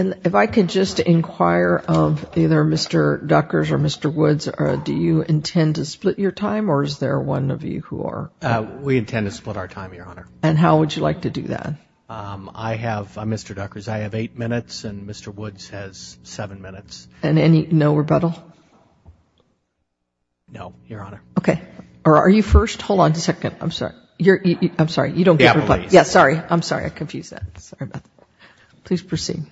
If I could just inquire of either Mr. Duckers or Mr. Woods, do you intend to split your time or is there one of you who are? We intend to split our time, Your Honor. And how would you like to do that? I have, Mr. Duckers, I have 8 minutes and Mr. Woods has 7 minutes. And any, no rebuttal? No, Your Honor. Okay. Or are you first? Hold on a second, I'm sorry, you don't get rebuttal. Please proceed.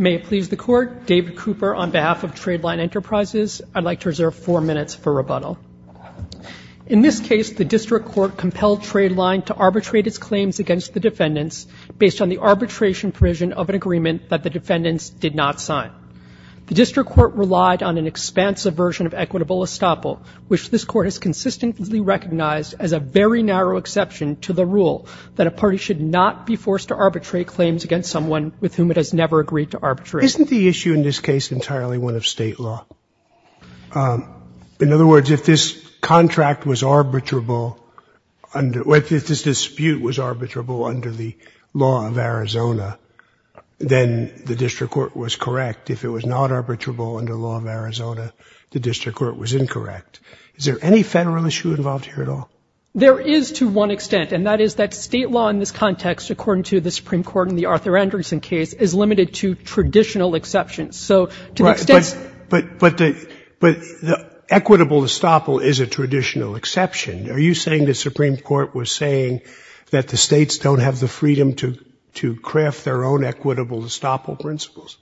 May it please the Court, David Cooper on behalf of Tradeline Enterprises. I'd like to reserve 4 minutes for rebuttal. In this case, the District Court compelled Tradeline to arbitrate its claims against the defendants based on the arbitration provision of an agreement that the defendants did not which this Court has consistently recognized as a very narrow exception to the rule that a party should not be forced to arbitrate claims against someone with whom it has never agreed to arbitrate. Isn't the issue in this case entirely one of State law? In other words, if this contract was arbitrable, if this dispute was arbitrable under the law of Arizona, then the District Court was correct. If it was not arbitrable under the law of Arizona, the District Court was incorrect. Is there any Federal issue involved here at all? There is to one extent, and that is that State law in this context, according to the Supreme Court in the Arthur Anderson case, is limited to traditional exceptions. So to the extent Right, but the equitable estoppel is a traditional exception. Are you saying the Supreme Court was saying that the States don't have the freedom to craft their own equitable estoppel principles?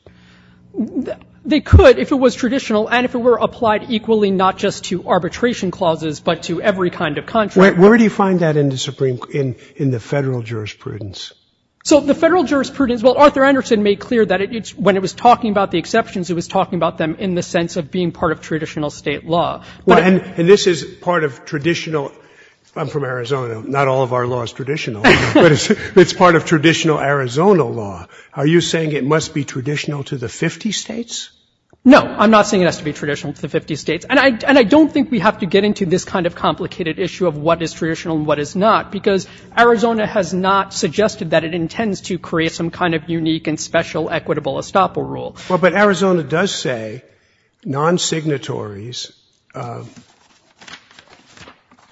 They could if it was traditional and if it were applied equally not just to arbitration clauses but to every kind of contract. Where do you find that in the Federal jurisprudence? So the Federal jurisprudence, well, Arthur Anderson made clear that when he was talking about the exceptions, he was talking about them in the sense of being part of traditional State law. Well, and this is part of traditional — I'm from Arizona. Not all of our law is traditional. But it's part of traditional Arizona law. Are you saying it must be traditional to the 50 States? No. I'm not saying it has to be traditional to the 50 States. And I don't think we have to get into this kind of complicated issue of what is traditional and what is not, because Arizona has not suggested that it intends to create some kind of unique and special equitable estoppel rule. Well, but Arizona does say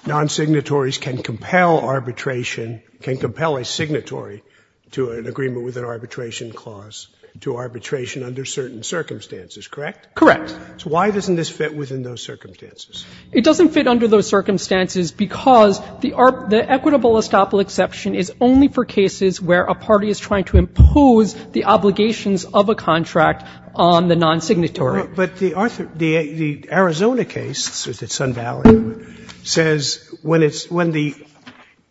non-signatories can compel arbitration, can compel a signatory to an agreement with an arbitration clause, to arbitration under certain circumstances, correct? Correct. So why doesn't this fit within those circumstances? It doesn't fit under those circumstances because the equitable estoppel exception is only for cases where a party is trying to impose the obligations of a contract on the non-signatory. But the Arizona case, the Sun Valley one, says when the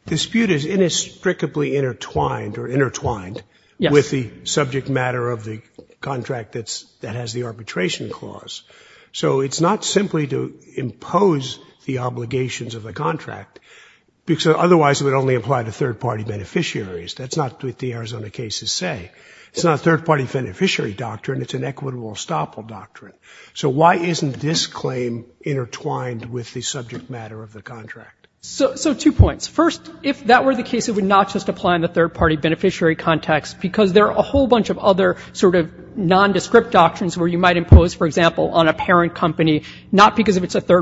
dispute is inextricably intertwined or intertwined with the subject matter of the contract that has the arbitration clause. So it's not simply to impose the obligations of a contract, because otherwise it would only apply to third-party beneficiaries. That's not what the Arizona cases say. It's not a third-party beneficiary doctrine. It's an equitable estoppel doctrine. So why isn't this claim intertwined with the subject matter of the contract? So two points. First, if that were the case, it would not just apply in the third-party beneficiary context, because there are a whole bunch of other sort of nondescript doctrines where you might impose, for example, on a parent company, not because if it's a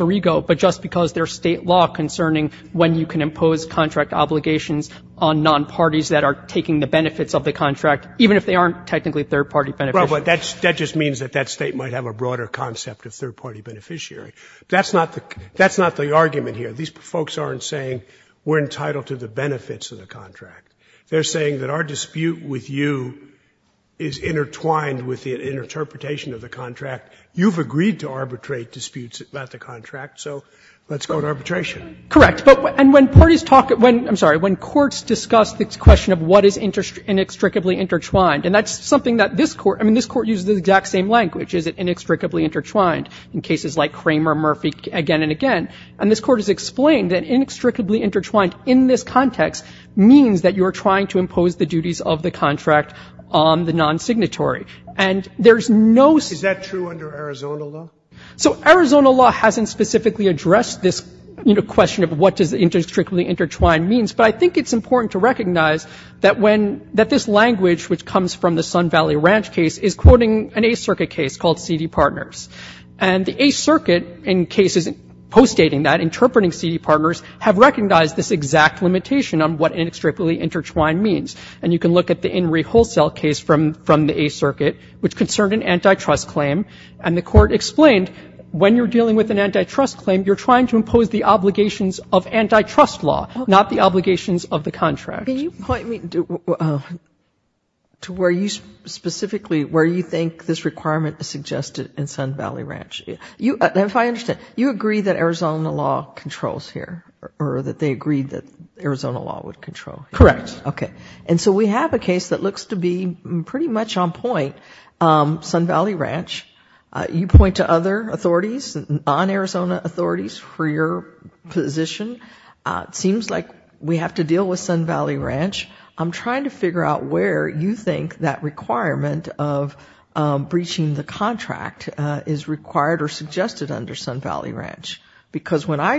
alter ego, but just because there's State law concerning when you can impose contract obligations on non-parties that are taking the benefits of the contract, even if they aren't technically third-party beneficiaries. But that just means that that State might have a broader concept of third-party beneficiary. That's not the argument here. These folks aren't saying we're entitled to the benefits of the contract. They're saying that our dispute with you is intertwined with the interpretation of the contract. You've agreed to arbitrate disputes about the contract, so let's go to arbitration. Correct. But when parties talk at one — I'm sorry. When courts discuss the question of what is inextricably intertwined, and that's something that this Court — I mean, this Court uses the exact same language, is it inextricably intertwined, in cases like Cramer, Murphy, again and again. And this Court has explained that inextricably intertwined in this context means that you are trying to impose the duties of the contract on the non-signatory. And there's no — Is that true under Arizona law? So Arizona law hasn't specifically addressed this, you know, question of what does inextricably intertwined mean, but I think it's important to recognize that when — that this language, which comes from the Sun Valley Ranch case, is quoting an Eighth Circuit case called Seedy Partners. And the Eighth Circuit, in cases postdating that, interpreting Seedy Partners, have recognized this exact limitation on what inextricably intertwined means. And you can look at the In Re Wholesale case from the Eighth Circuit, which concerned an antitrust claim, and the Court explained when you're dealing with an antitrust claim, you're trying to impose the obligations of antitrust law, not the obligations of the contract. Can you point me to where you specifically — where you think this requirement is suggested in Sun Valley Ranch? If I understand, you agree that Arizona law controls here, or that they agreed that Arizona law would control? Correct. Okay. And so we have a case that looks to be pretty much on point, Sun Valley Ranch. You point to other authorities, non-Arizona authorities, for your position. It seems like we have to deal with Sun Valley Ranch. I'm trying to figure out where you think that requirement of breaching the contract is required or suggested under Sun Valley Ranch. Because where I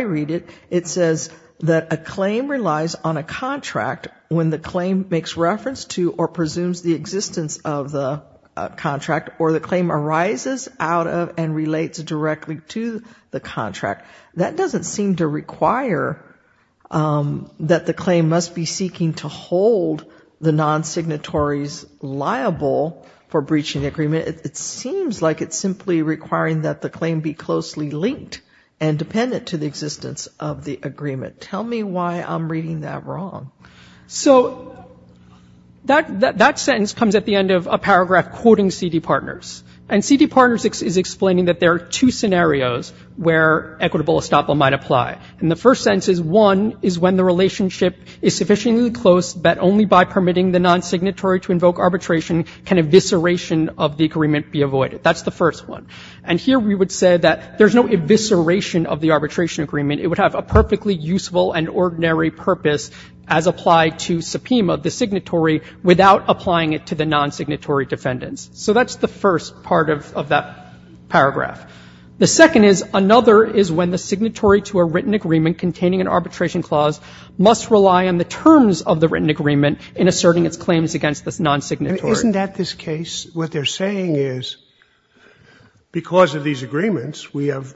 read it, it says that a claim relies on a contract when the claim makes reference to or presumes the existence of the contract, or the claim arises out of and relates directly to the contract. That doesn't seem to require that the claim must be seeking to hold the non-signatories liable for breaching the agreement. It seems like it's simply requiring that the claim be closely linked and dependent to the existence of the agreement. Tell me why I'm reading that wrong. So that sentence comes at the end of a paragraph quoting C.D. Partners. And C.D. Partners is explaining that there are two scenarios where equitable estoppel might apply. And the first sentence is, one is when the relationship is sufficiently close that only by permitting the non-signatory to invoke arbitration can evisceration of the agreement be avoided. That's the first one. And here we would say that there's no evisceration of the arbitration agreement. It would have a perfectly useful and ordinary purpose as applied to subpoena the signatory without applying it to the non-signatory defendants. So that's the first part of that paragraph. The second is, another is when the signatory to a written agreement containing an arbitration clause must rely on the terms of the written agreement in asserting its claims against the non-signatory. Isn't that this case? What they're saying is, because of these agreements, we have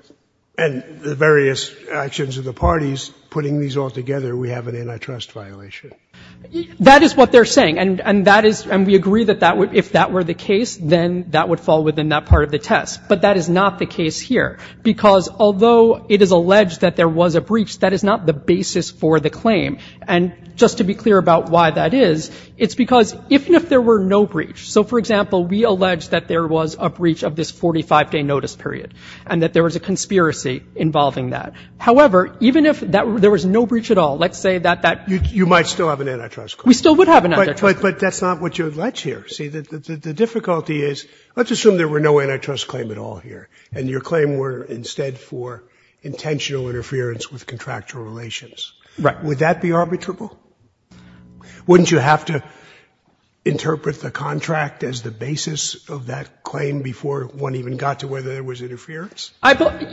and the various actions of the parties putting these all together, we have an antitrust violation. That is what they're saying. And that is, and we agree that that would, if that were the case, then that would fall within that part of the test. But that is not the case here. Because although it is alleged that there was a breach, that is not the basis for the claim. And just to be clear about why that is, it's because even if there were no breach, so for example, we allege that there was a breach of this 45-day notice period, and that there was a conspiracy involving that. However, even if there was no breach at all, let's say that that you might still have an antitrust claim. But that's not what you allege here. See, the difficulty is, let's assume there were no antitrust claim at all here, and your claim were instead for intentional interference with contractual relations. Would that be arbitrable? Wouldn't you have to interpret the contract as the basis of that claim before one even got to whether there was interference?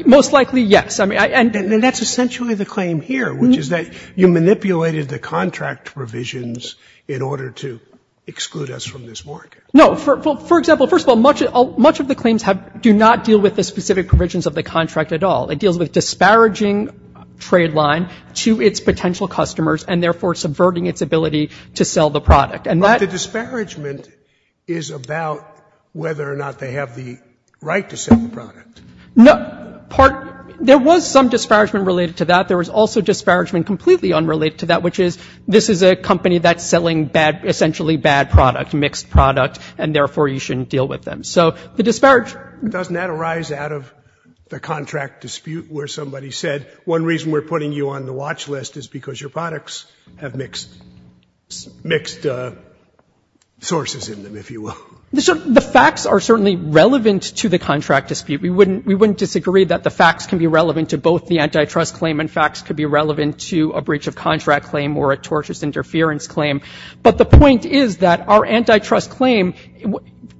Most likely, yes. And that's essentially the claim here, which is that you manipulated the contract provisions in order to exclude us from this market. No. For example, first of all, much of the claims do not deal with the specific provisions of the contract at all. It deals with disparaging Trade Line to its potential customers, and therefore subverting its ability to sell the product. But the disparagement is about whether or not they have the right to sell the product. No. Part — there was some disparagement related to that. There was also disparagement completely unrelated to that, which is this is a company that's selling bad — essentially bad product, mixed product, and therefore you shouldn't deal with them. So the disparage Doesn't that arise out of the contract dispute where somebody said, one reason we're putting you on the watch list is because your products have mixed — mixed sources in them, if you will? The facts are certainly relevant to the contract dispute. We wouldn't — we wouldn't disagree that the facts can be relevant to both the antitrust claim and facts could be relevant to a breach-of-contract claim or a tortious interference claim. But the point is that our antitrust claim,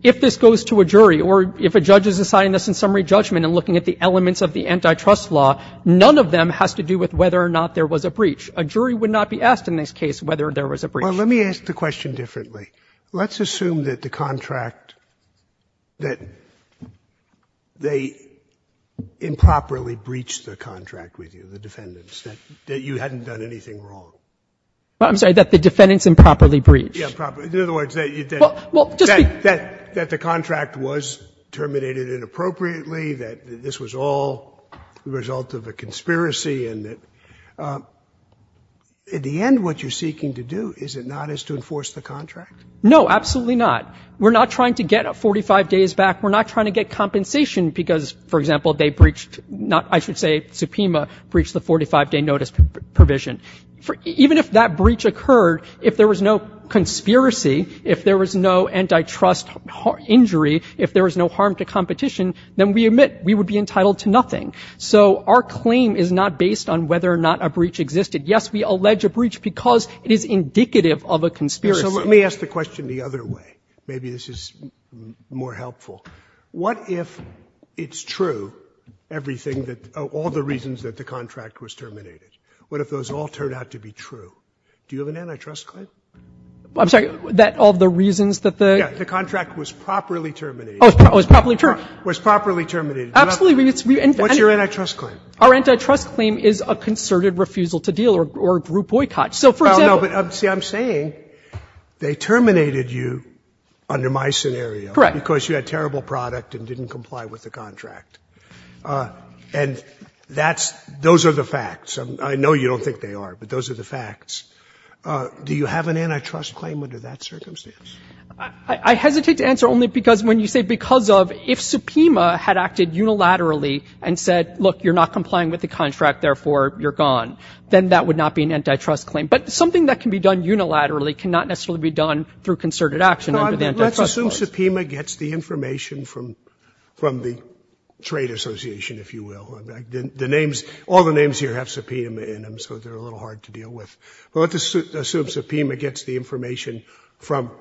if this goes to a jury or if a judge is deciding this in summary judgment and looking at the elements of the antitrust law, none of them has to do with whether or not there was a breach. A jury would not be asked in this case whether there was a breach. Well, let me ask the question differently. Let's assume that the contract — that they improperly breached the contract with you, the defendants, that you hadn't done anything wrong. I'm sorry, that the defendants improperly breached. Yeah, improperly. In other words, that you — that the contract was terminated inappropriately, that this was all the result of a conspiracy, and that — at the end, what you're seeking to do, is it not, is to enforce the contract? No, absolutely not. We're not trying to get 45 days back. We're not trying to get compensation because, for example, they breached — I should say, Supema breached the 45-day notice provision. Even if that breach occurred, if there was no conspiracy, if there was no antitrust injury, if there was no harm to competition, then we admit we would be entitled to nothing. So our claim is not based on whether or not a breach existed. Yes, we allege a breach because it is indicative of a conspiracy. So let me ask the question the other way. Maybe this is more helpful. What if it's true, everything that — all the reasons that the contract was terminated, what if those all turned out to be true? Do you have an antitrust claim? I'm sorry. That all the reasons that the — Yeah. The contract was properly terminated. Oh, it was properly terminated. It was properly terminated. Absolutely. What's your antitrust claim? Our antitrust claim is a concerted refusal to deal or group boycott. So, for example — Oh, no. But, see, I'm saying they terminated you under my scenario. Correct. Because you had terrible product and didn't comply with the contract. And that's — those are the facts. I know you don't think they are, but those are the facts. Do you have an antitrust claim under that circumstance? I hesitate to answer only because when you say because of — if Supema had acted unilaterally and said, look, you're not complying with the contract, therefore you're gone, then that would not be an antitrust claim. But something that can be done unilaterally cannot necessarily be done through concerted action under the antitrust clause. No, I mean, let's assume Supema gets the information from the trade association, if you will. The names — all the names here have Supema in them, so they're a Let's assume Supema gets the information from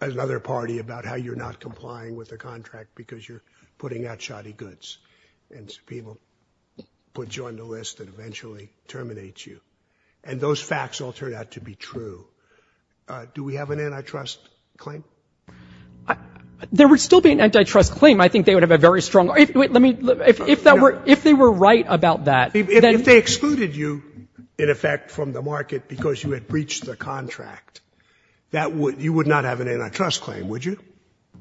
another party about how you're not complying with the contract because you're putting out shoddy goods. And Supema will put you on the list and eventually terminate you. And those facts all turn out to be true. Do we have an antitrust claim? There would still be an antitrust claim. I think they would have a very strong — let me — if that were — if they were right about that — If they excluded you, in effect, from the market because you had breached the contract, that would — you would not have an antitrust claim, would you?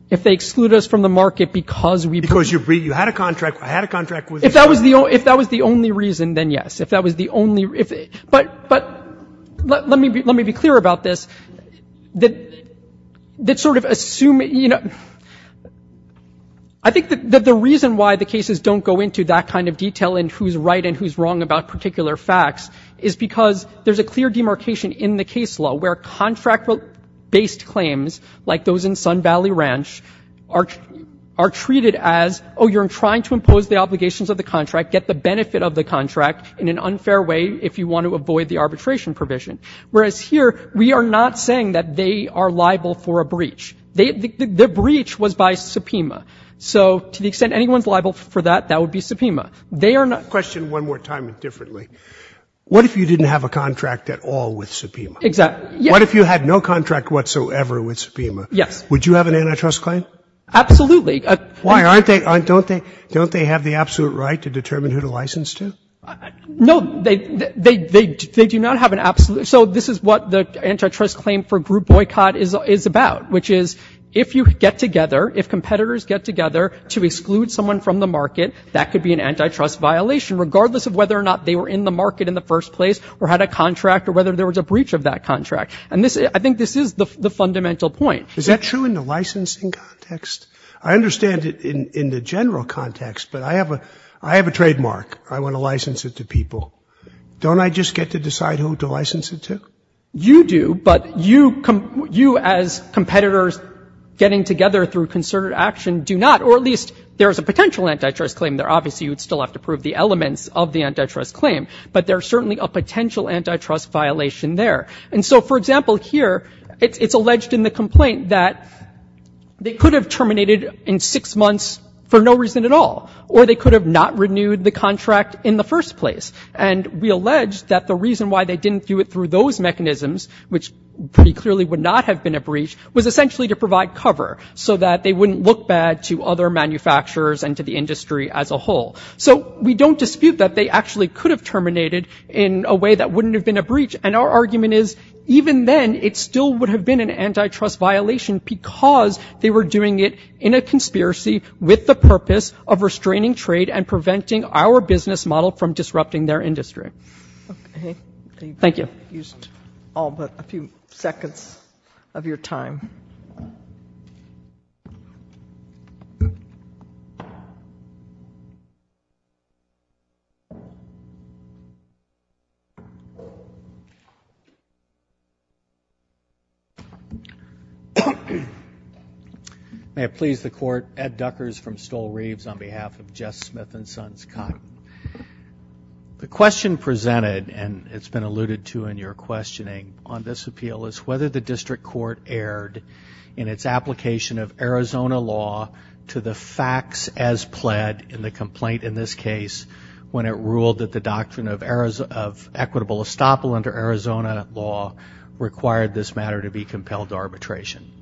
If they exclude us from the market because we — Because you had a contract with — If that was the only reason, then yes. If that was the only — but let me be clear about this. That sort of assuming — I think that the reason why the cases don't go into that kind of detail in who's right and who's wrong about particular facts is because there's a clear demarcation in the case law where contract-based claims, like those in Sun Valley Ranch, are treated as, oh, you're trying to impose the obligations of the contract, get the benefit of the contract in an unfair way if you want to avoid the arbitration provision. Whereas here, we are not saying that they are liable for a breach. The breach was by Supema. So to the extent anyone's liable for that, that would be Supema. They are not — Question one more time, differently. What if you didn't have a contract at all with Supema? Exactly. What if you had no contract whatsoever with Supema? Yes. Would you have an antitrust claim? Absolutely. Why? Aren't they — don't they — don't they have the absolute right to determine who to license to? No. They do not have an absolute — so this is what the antitrust claim for group boycott is about, which is if you get together, if competitors get together to exclude someone from the market, that could be an antitrust violation, regardless of whether or not they were in the market in the first place or had a contract or whether there was a breach of that contract. And this — I think this is the fundamental point. Is that true in the licensing context? I understand it in the general context, but I have a — I have a trademark. I want to license it to people. Don't I just get to decide who to license it to? You do, but you — you as competitors getting together through concerted action do not, or at least there is a potential antitrust claim there. Obviously, you would still have to prove the elements of the antitrust claim, but there's certainly a potential antitrust violation there. And so, for example, here, it's alleged in the complaint that they could have terminated in six months for no reason at all, or they could have not renewed the contract in the first place. And we allege that the reason why they didn't do it through those mechanisms, which pretty clearly would not have been a breach, was essentially to provide cover so that they wouldn't look bad to other manufacturers and to the industry as a whole. So we don't dispute that they actually could have terminated in a way that wouldn't have been a breach. And our argument is, even then, it still would have been an antitrust violation because they were doing it in a conspiracy with the purpose of restraining trade and preventing our business model from disrupting their industry. Okay. Thank you. You've used all but a few seconds of your time. May it please the Court, Ed Duckers from Stoll Reeves on behalf of Jess Smith and myself. The question presented, and it's been alluded to in your questioning on this appeal, is whether the District Court erred in its application of Arizona law to the facts as pled in the complaint in this case when it ruled that the doctrine of equitable estoppel under Arizona law required this matter to be compelled to arbitration.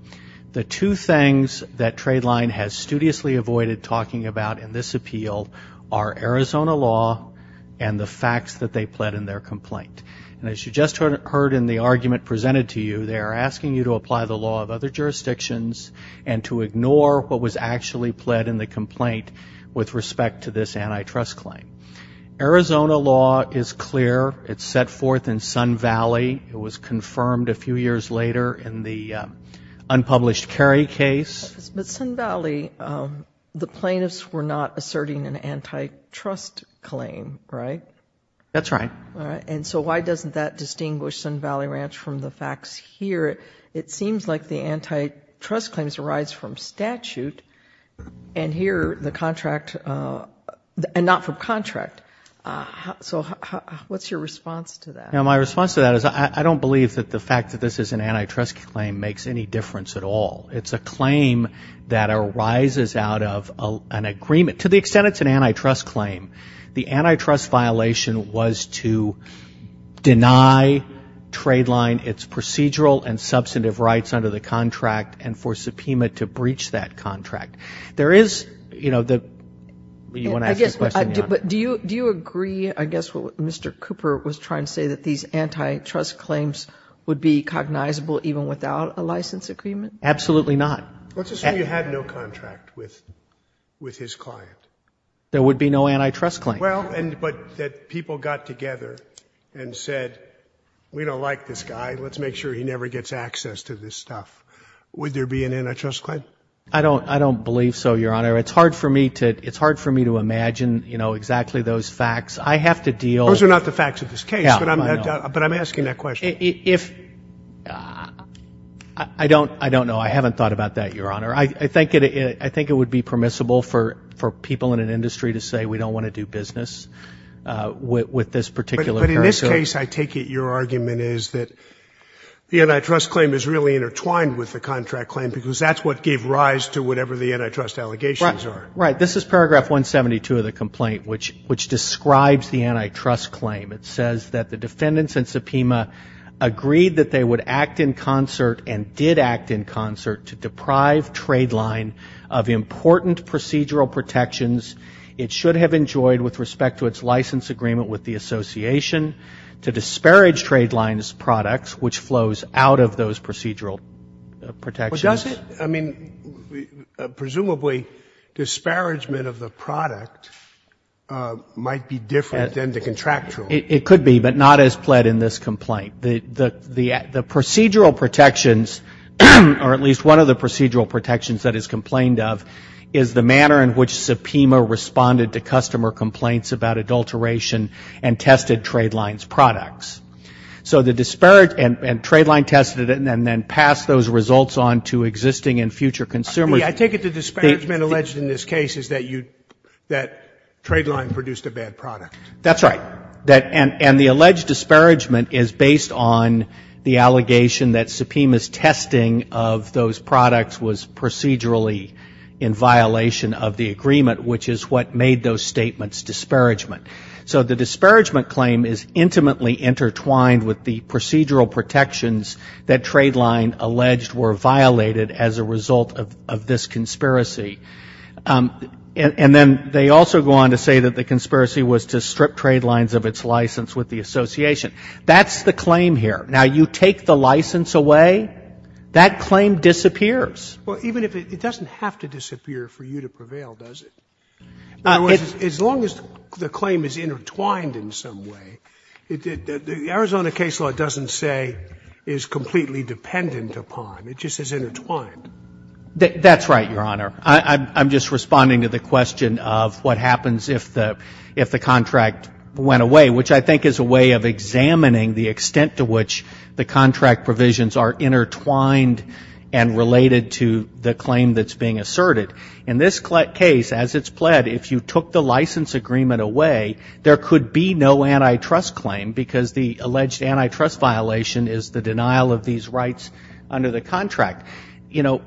The two things that Tradeline has studiously avoided talking about in this appeal are Arizona law and the facts that they pled in their complaint. And as you just heard in the argument presented to you, they are asking you to apply the law of other jurisdictions and to ignore what was actually pled in the complaint with respect to this antitrust claim. Arizona law is clear. It's set forth in Sun Valley. It was confirmed a few years later in the unpublished Kerry case. But Sun Valley, the plaintiffs were not asserting an antitrust claim, right? That's right. And so why doesn't that distinguish Sun Valley Ranch from the facts here? It seems like the antitrust claims arise from statute and here the contract, and not from contract. So what's your response to that? My response to that is I don't believe that the fact that this is an antitrust claim makes any difference at all. It's a claim that arises out of an agreement. To the extent it's an antitrust claim, the antitrust violation was to deny Tradeline its procedural and substantive rights under the contract and for subpoena to breach that contract. There is, you know, the question. But do you agree, I guess what Mr. Cooper was trying to say, that these antitrust claims would be cognizable even without a license agreement? Absolutely not. Let's assume you had no contract with his client. There would be no antitrust claim. Well, but people got together and said, we don't like this guy. Let's make sure he never gets access to this stuff. Would there be an antitrust claim? I don't believe so, Your Honor. It's hard for me to imagine, you know, exactly those facts. I have to deal with They're not the facts of this case, but I'm asking that question. I don't know. I haven't thought about that, Your Honor. I think it would be permissible for people in an industry to say, we don't want to do business with this particular person. But in this case, I take it your argument is that the antitrust claim is really intertwined with the contract claim because that's what gave rise to whatever the antitrust allegations are. Right. This is paragraph 172 of the complaint, which describes the antitrust claim. It says that the defendants in subpoena agreed that they would act in concert and did act in concert to deprive Tradeline of important procedural protections. It should have enjoyed, with respect to its license agreement with the association, to disparage Tradeline's products, which flows out of those procedural protections. Well, does it? I mean, presumably, disparagement of the product might be different than the contractual. It could be, but not as pled in this complaint. The procedural protections, or at least one of the procedural protections that is complained of, is the manner in which subpoena responded to customer complaints about adulteration and tested Tradeline's products. So the disparage, and Tradeline tested it and then passed those results on to existing and future consumers. I take it the disparagement alleged in this case is that you, that Tradeline produced a bad product. That's right. And the alleged disparagement is based on the allegation that subpoena's testing of those products was procedurally in violation of the agreement, which is what made those statements disparagement. So the disparagement claim is intimately intertwined with the procedural protections that Tradeline alleged were violated as a result of this conspiracy. And then they also go on to say that the conspiracy was to strip Tradeline's of its license with the association. That's the claim here. Now, you take the license away, that claim disappears. Well, even if it doesn't have to disappear for you to prevail, does it? As long as the claim is intertwined in some way, the Arizona case law doesn't say is completely dependent upon. It just is intertwined. That's right, Your Honor. I'm just responding to the question of what happens if the contract went away, which I think is a way of examining the extent to which the contract provisions are intertwined and related to the claim that's being asserted. In this case, as it's pled, if you took the license agreement away, there could be no antitrust claim, because the alleged antitrust violation is the one that was committed.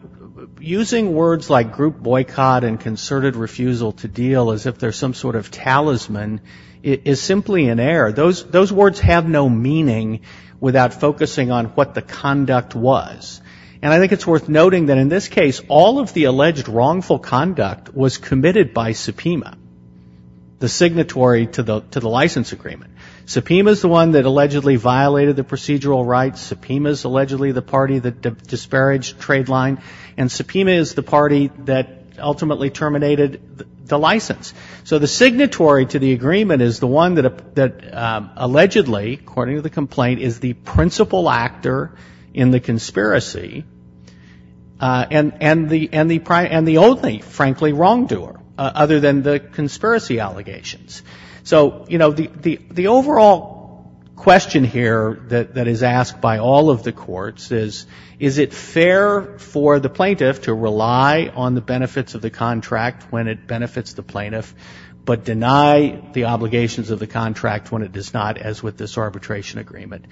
Using words like group boycott and concerted refusal to deal as if they're some sort of talisman is simply an error. Those words have no meaning without focusing on what the conduct was. And I think it's worth noting that in this case, all of the alleged wrongful conduct was committed by subpoena, the signatory to the license agreement. Subpoena is the one that allegedly violated the license. Subpoena is the party that ultimately terminated the license. So the signatory to the agreement is the one that allegedly, according to the complaint, is the principal actor in the conspiracy, and the only, frankly, wrongdoer, other than the conspiracy allegations. So, you know, the overall question here that is asked by all of the courts is, is it fair for the plaintiff to rely on the benefits of the contract when it benefits the plaintiff, but deny the obligations of the contract when it does not, as with this arbitration agreement?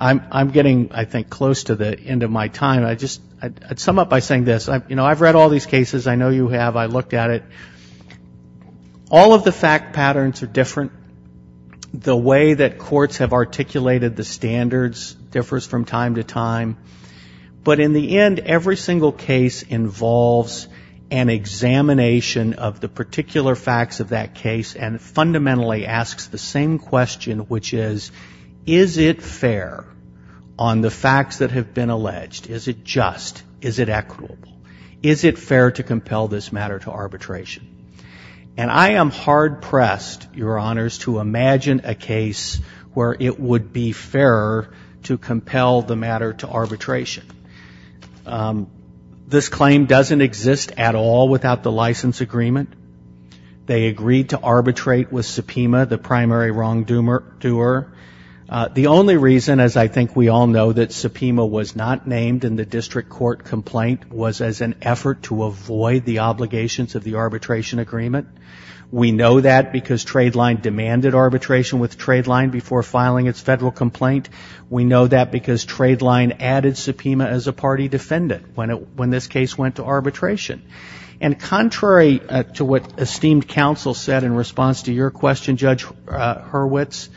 I'm getting, I think, close to the end of my time. I just, I'd sum up by saying this. You know, I've read all these cases. I know you have. I looked at it. All of the fact patterns are different. The way that courts have articulated the standards differs from time to time. But in the end, every single case involves an examination of the particular facts of that case, and fundamentally asks the same question, which is, is it fair on the facts that have been alleged? Is it just? Is it equitable? Is it fair to compel this matter to arbitration? This claim doesn't exist at all without the license agreement. They agreed to arbitrate with subpoena, the primary wrongdoer. The only reason, as I think we all know, that subpoena was not named in the district court complaint was as an effort to avoid the obligations of the arbitration agreement. We know that because Tradeline demanded arbitration with Tradeline before filing its federal complaint. We know that because Tradeline added subpoena as a party defendant when this case went to arbitration. And contrary to what esteemed counsel said in response to your question, Judge Hurwitz,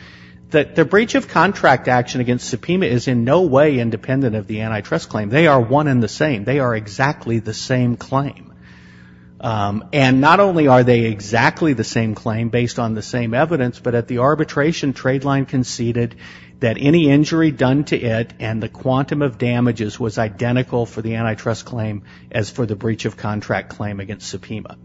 that the breach of contract action against subpoena is in no way independent of the antitrust claim. They are one and the same. They are exactly the same claim. And not only are they exactly the same claim based on the same evidence, but at the arbitration, Tradeline conceded that any injury done to it and the quantum of damages was identical for the antitrust claim as for the breach of contract claim against subpoena.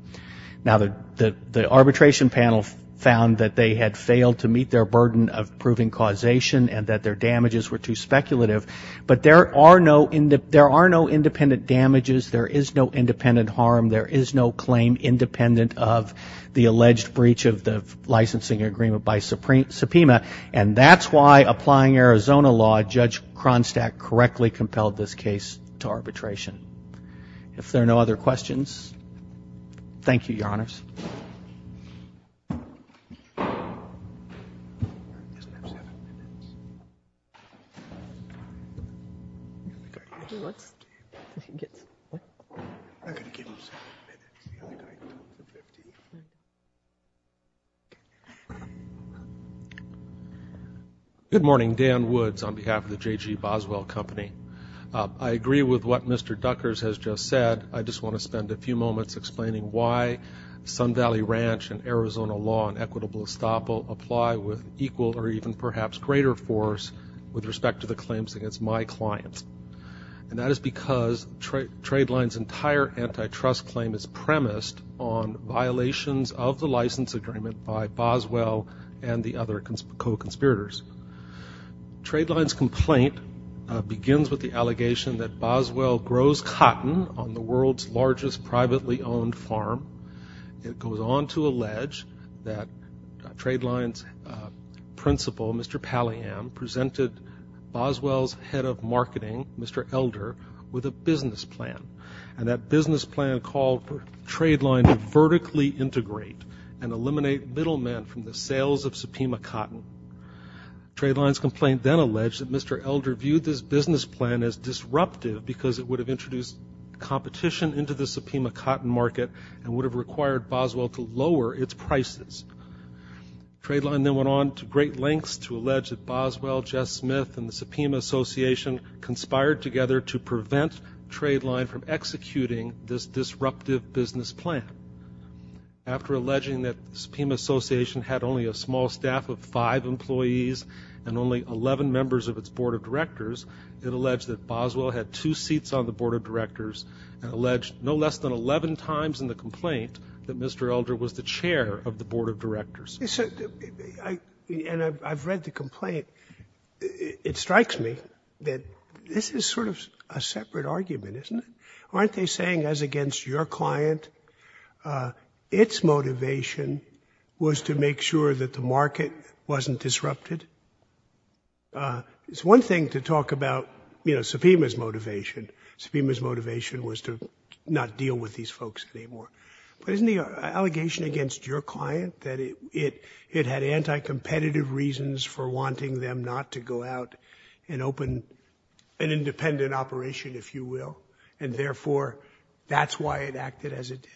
Now, the arbitration panel found that they had failed to meet their burden of proving causation and that their damages were too speculative. But there are no independent damages. There is no independent harm. There is no claim independent of the alleged breach of the licensing agreement by subpoena. And that's why applying Arizona law, Judge Kronstadt correctly compelled this case to arbitration. If there are no other questions, thank you, Your Honors. Good morning. Dan Woods on behalf of the J.G. Boswell Company. I agree with what Mr. Duckers has just said. I just want to spend a few moments explaining why Sun Valley Ranch and Arizona law and equitable estoppel apply with equal or even perhaps greater force with respect to the claims against my clients. And that is because Tradeline's entire antitrust claim is premised on violations of the license agreement by Boswell and the other co-conspirators. Tradeline's complaint begins with the allegation that Boswell grows cotton on the world's largest privately owned farm. It goes on to allege that Tradeline's principal, Mr. Palliam, presented Boswell's head of marketing, Mr. Elder, with a business plan. And that business plan called for Tradeline to vertically integrate and eliminate middlemen from the sales of subpoena cotton. Tradeline's complaint then alleged that Mr. Elder viewed this business plan as disruptive because it would have introduced competition into the subpoena cotton market and would have required Boswell to lower its prices. Tradeline then went on to great lengths to allege that Boswell, Jess Smith, and the Subpoena Association conspired together to prevent Tradeline from executing this disruptive business plan. After alleging that the Subpoena Association had only a small staff of five employees and only 11 members of its board of directors, it alleged that Boswell had two seats on the board of directors and alleged no less than 11 times in the complaint that Mr. Elder was the chair of the board of directors. And I've read the complaint. It strikes me that this is sort of a separate argument, isn't it? Aren't they saying, as against your client, its motivation was to make sure that the market wasn't disrupted? It's one thing to talk about, you know, subpoena's motivation was to not deal with these folks anymore. But isn't the allegation against your client that it had anti-competitive reasons for wanting them not to go out and open an independent operation, if you will, and therefore that's why it acted as it did?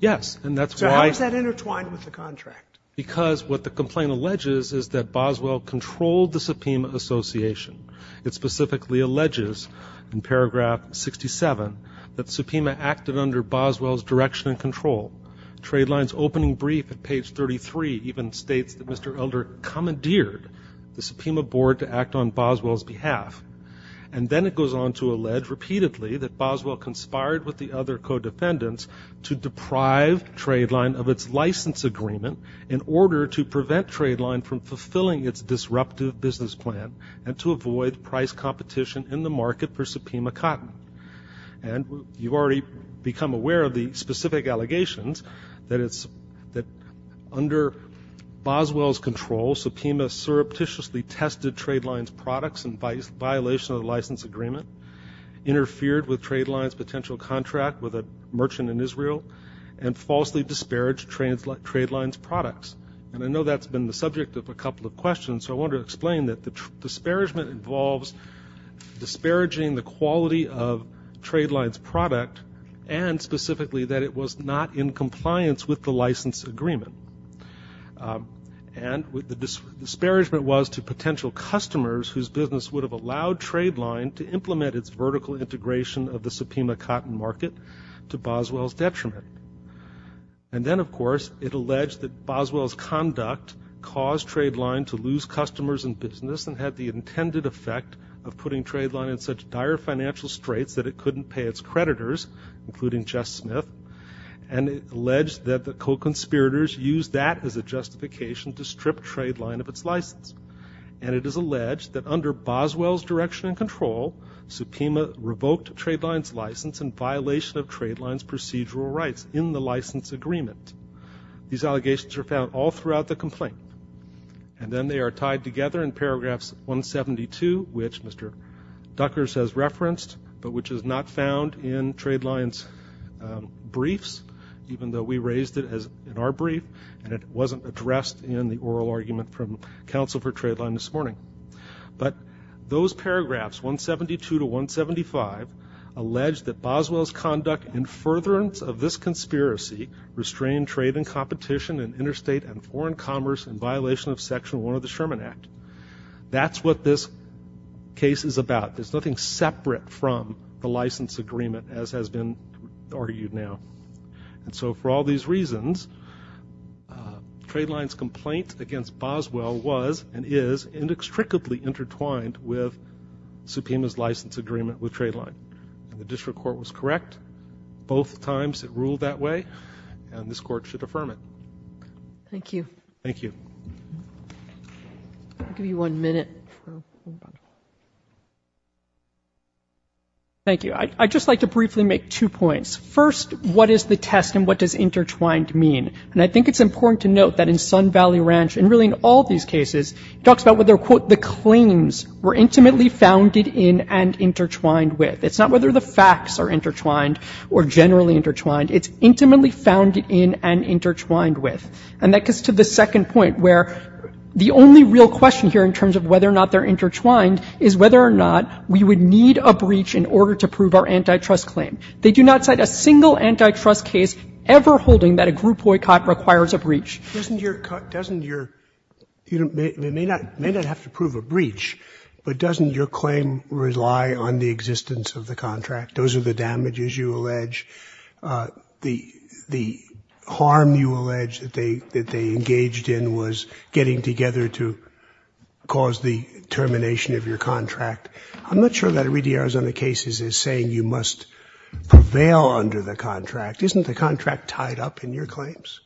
Yes, and that's why... So how is that intertwined with the contract? Because what the complaint alleges is that Boswell controlled the Subpoena Association. It specifically alleges in paragraph 67 that Subpoena acted under Boswell's direction and control. Trade Line's opening brief at page 33 even states that Mr. Elder commandeered the Subpoena board to act on Boswell's behalf. And then it goes on to allege repeatedly that Boswell conspired with the other co-defendants to deprive Trade Line of its license agreement in order to prevent Trade Line from fulfilling its disruptive business plan and to avoid price competition in the market for Subpoena cotton. And you've already become aware of the specific allegations that under Boswell's control, Subpoena surreptitiously tested Trade Line's products in violation of the license agreement, interfered with Trade Line's potential contract with a merchant in the subject of a couple of questions. So I want to explain that the disparagement involves disparaging the quality of Trade Line's product and specifically that it was not in compliance with the license agreement. And the disparagement was to potential customers whose business would have allowed Trade Line to implement its vertical integration of the Subpoena cotton market to be successful. And then, of course, it alleged that Boswell's conduct caused Trade Line to lose customers in business and had the intended effect of putting Trade Line in such dire financial straits that it couldn't pay its creditors, including Jess Smith, and alleged that the co-conspirators used that as a justification to strip Trade Line of its license. And it is alleged that under Boswell's direction and control, Subpoena revoked Trade Line's license in violation of Trade Line's procedural rights in the license agreement. These allegations are found all throughout the complaint. And then they are tied together in paragraphs 172, which Mr. Duckers has referenced, but which is not found in Trade Line's briefs, even though we raised it in our brief and it wasn't addressed in the oral argument from counsel for Trade Line this morning. But those paragraphs, 172 to 175, alleged that Boswell's conduct in furtherance of this conspiracy restrained trade and competition in interstate and foreign commerce in violation of Section 1 of the Sherman Act. That's what this case is about. There's nothing separate from the license agreement, as has been argued now. And so for all these reasons, Trade Line's complaint against Boswell was and is inextricably intertwined with Subpoena's license agreement with Trade Line. And the district court was correct. Both times it ruled that way, and this court should affirm it. Thank you. Thank you. I'll give you one minute. Thank you. I'd just like to briefly make two points. First, what is the test and what does intertwined mean? And I think it's important to note that in Sun Valley Ranch, and really in all these cases, it talks about whether, quote, the claims were intimately founded in and intertwined with. It's not whether the facts are intertwined or generally intertwined. It's intimately founded in and intertwined with. And that gets to the second point, where the only real question here in terms of whether or not they're intertwined is whether or not we would need a breach in order to prove our antitrust claim. They do not cite a single antitrust case ever holding that a group boycott requires a breach. Doesn't your – doesn't your – they may not have to prove a breach, but doesn't your claim rely on the existence of the contract? Those are the damages you allege, the harm you allege that they – that they engaged in was getting together to cause the termination of your contract. I'm not sure that Iridia-Arizona cases is saying you must prevail under the contract. Isn't the contract tied up in your claims?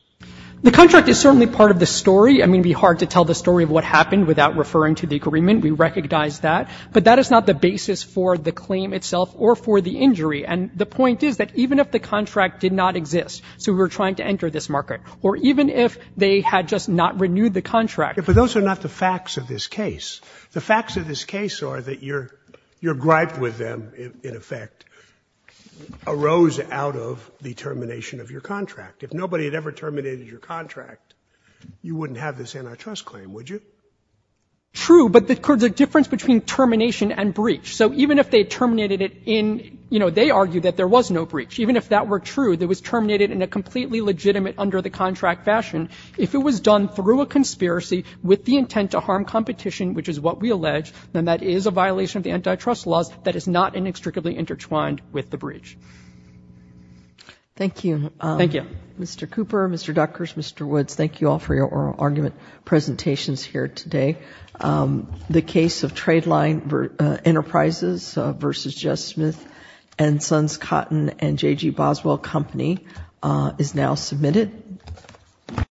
The contract is certainly part of the story. I mean, it would be hard to tell the story of what happened without referring to the agreement. We recognize that. But that is not the basis for the claim itself or for the injury. And the point is that even if the contract did not exist, so we're trying to enter this market, or even if they had just not renewed the contract. But those are not the facts of this case. The facts of this case are that your gripe with them, in effect, arose out of the termination of your contract. If nobody had ever terminated your contract, you wouldn't have this antitrust claim, would you? True, but the difference between termination and breach. So even if they terminated it in, you know, they argued that there was no breach. Even if that were true, that was terminated in a completely legitimate under-the-contract fashion. If it was done through a conspiracy with the intent to harm competition, which is what we allege, then that is a violation of the antitrust laws that is not inextricably intertwined with the breach. Thank you. Thank you. Mr. Cooper, Mr. Duckers, Mr. Woods, thank you all for your oral argument presentations here today. The case of Tradeline Enterprises v. Jess Smith & Sons Cotton & J.G. Boswell Company is now submitted.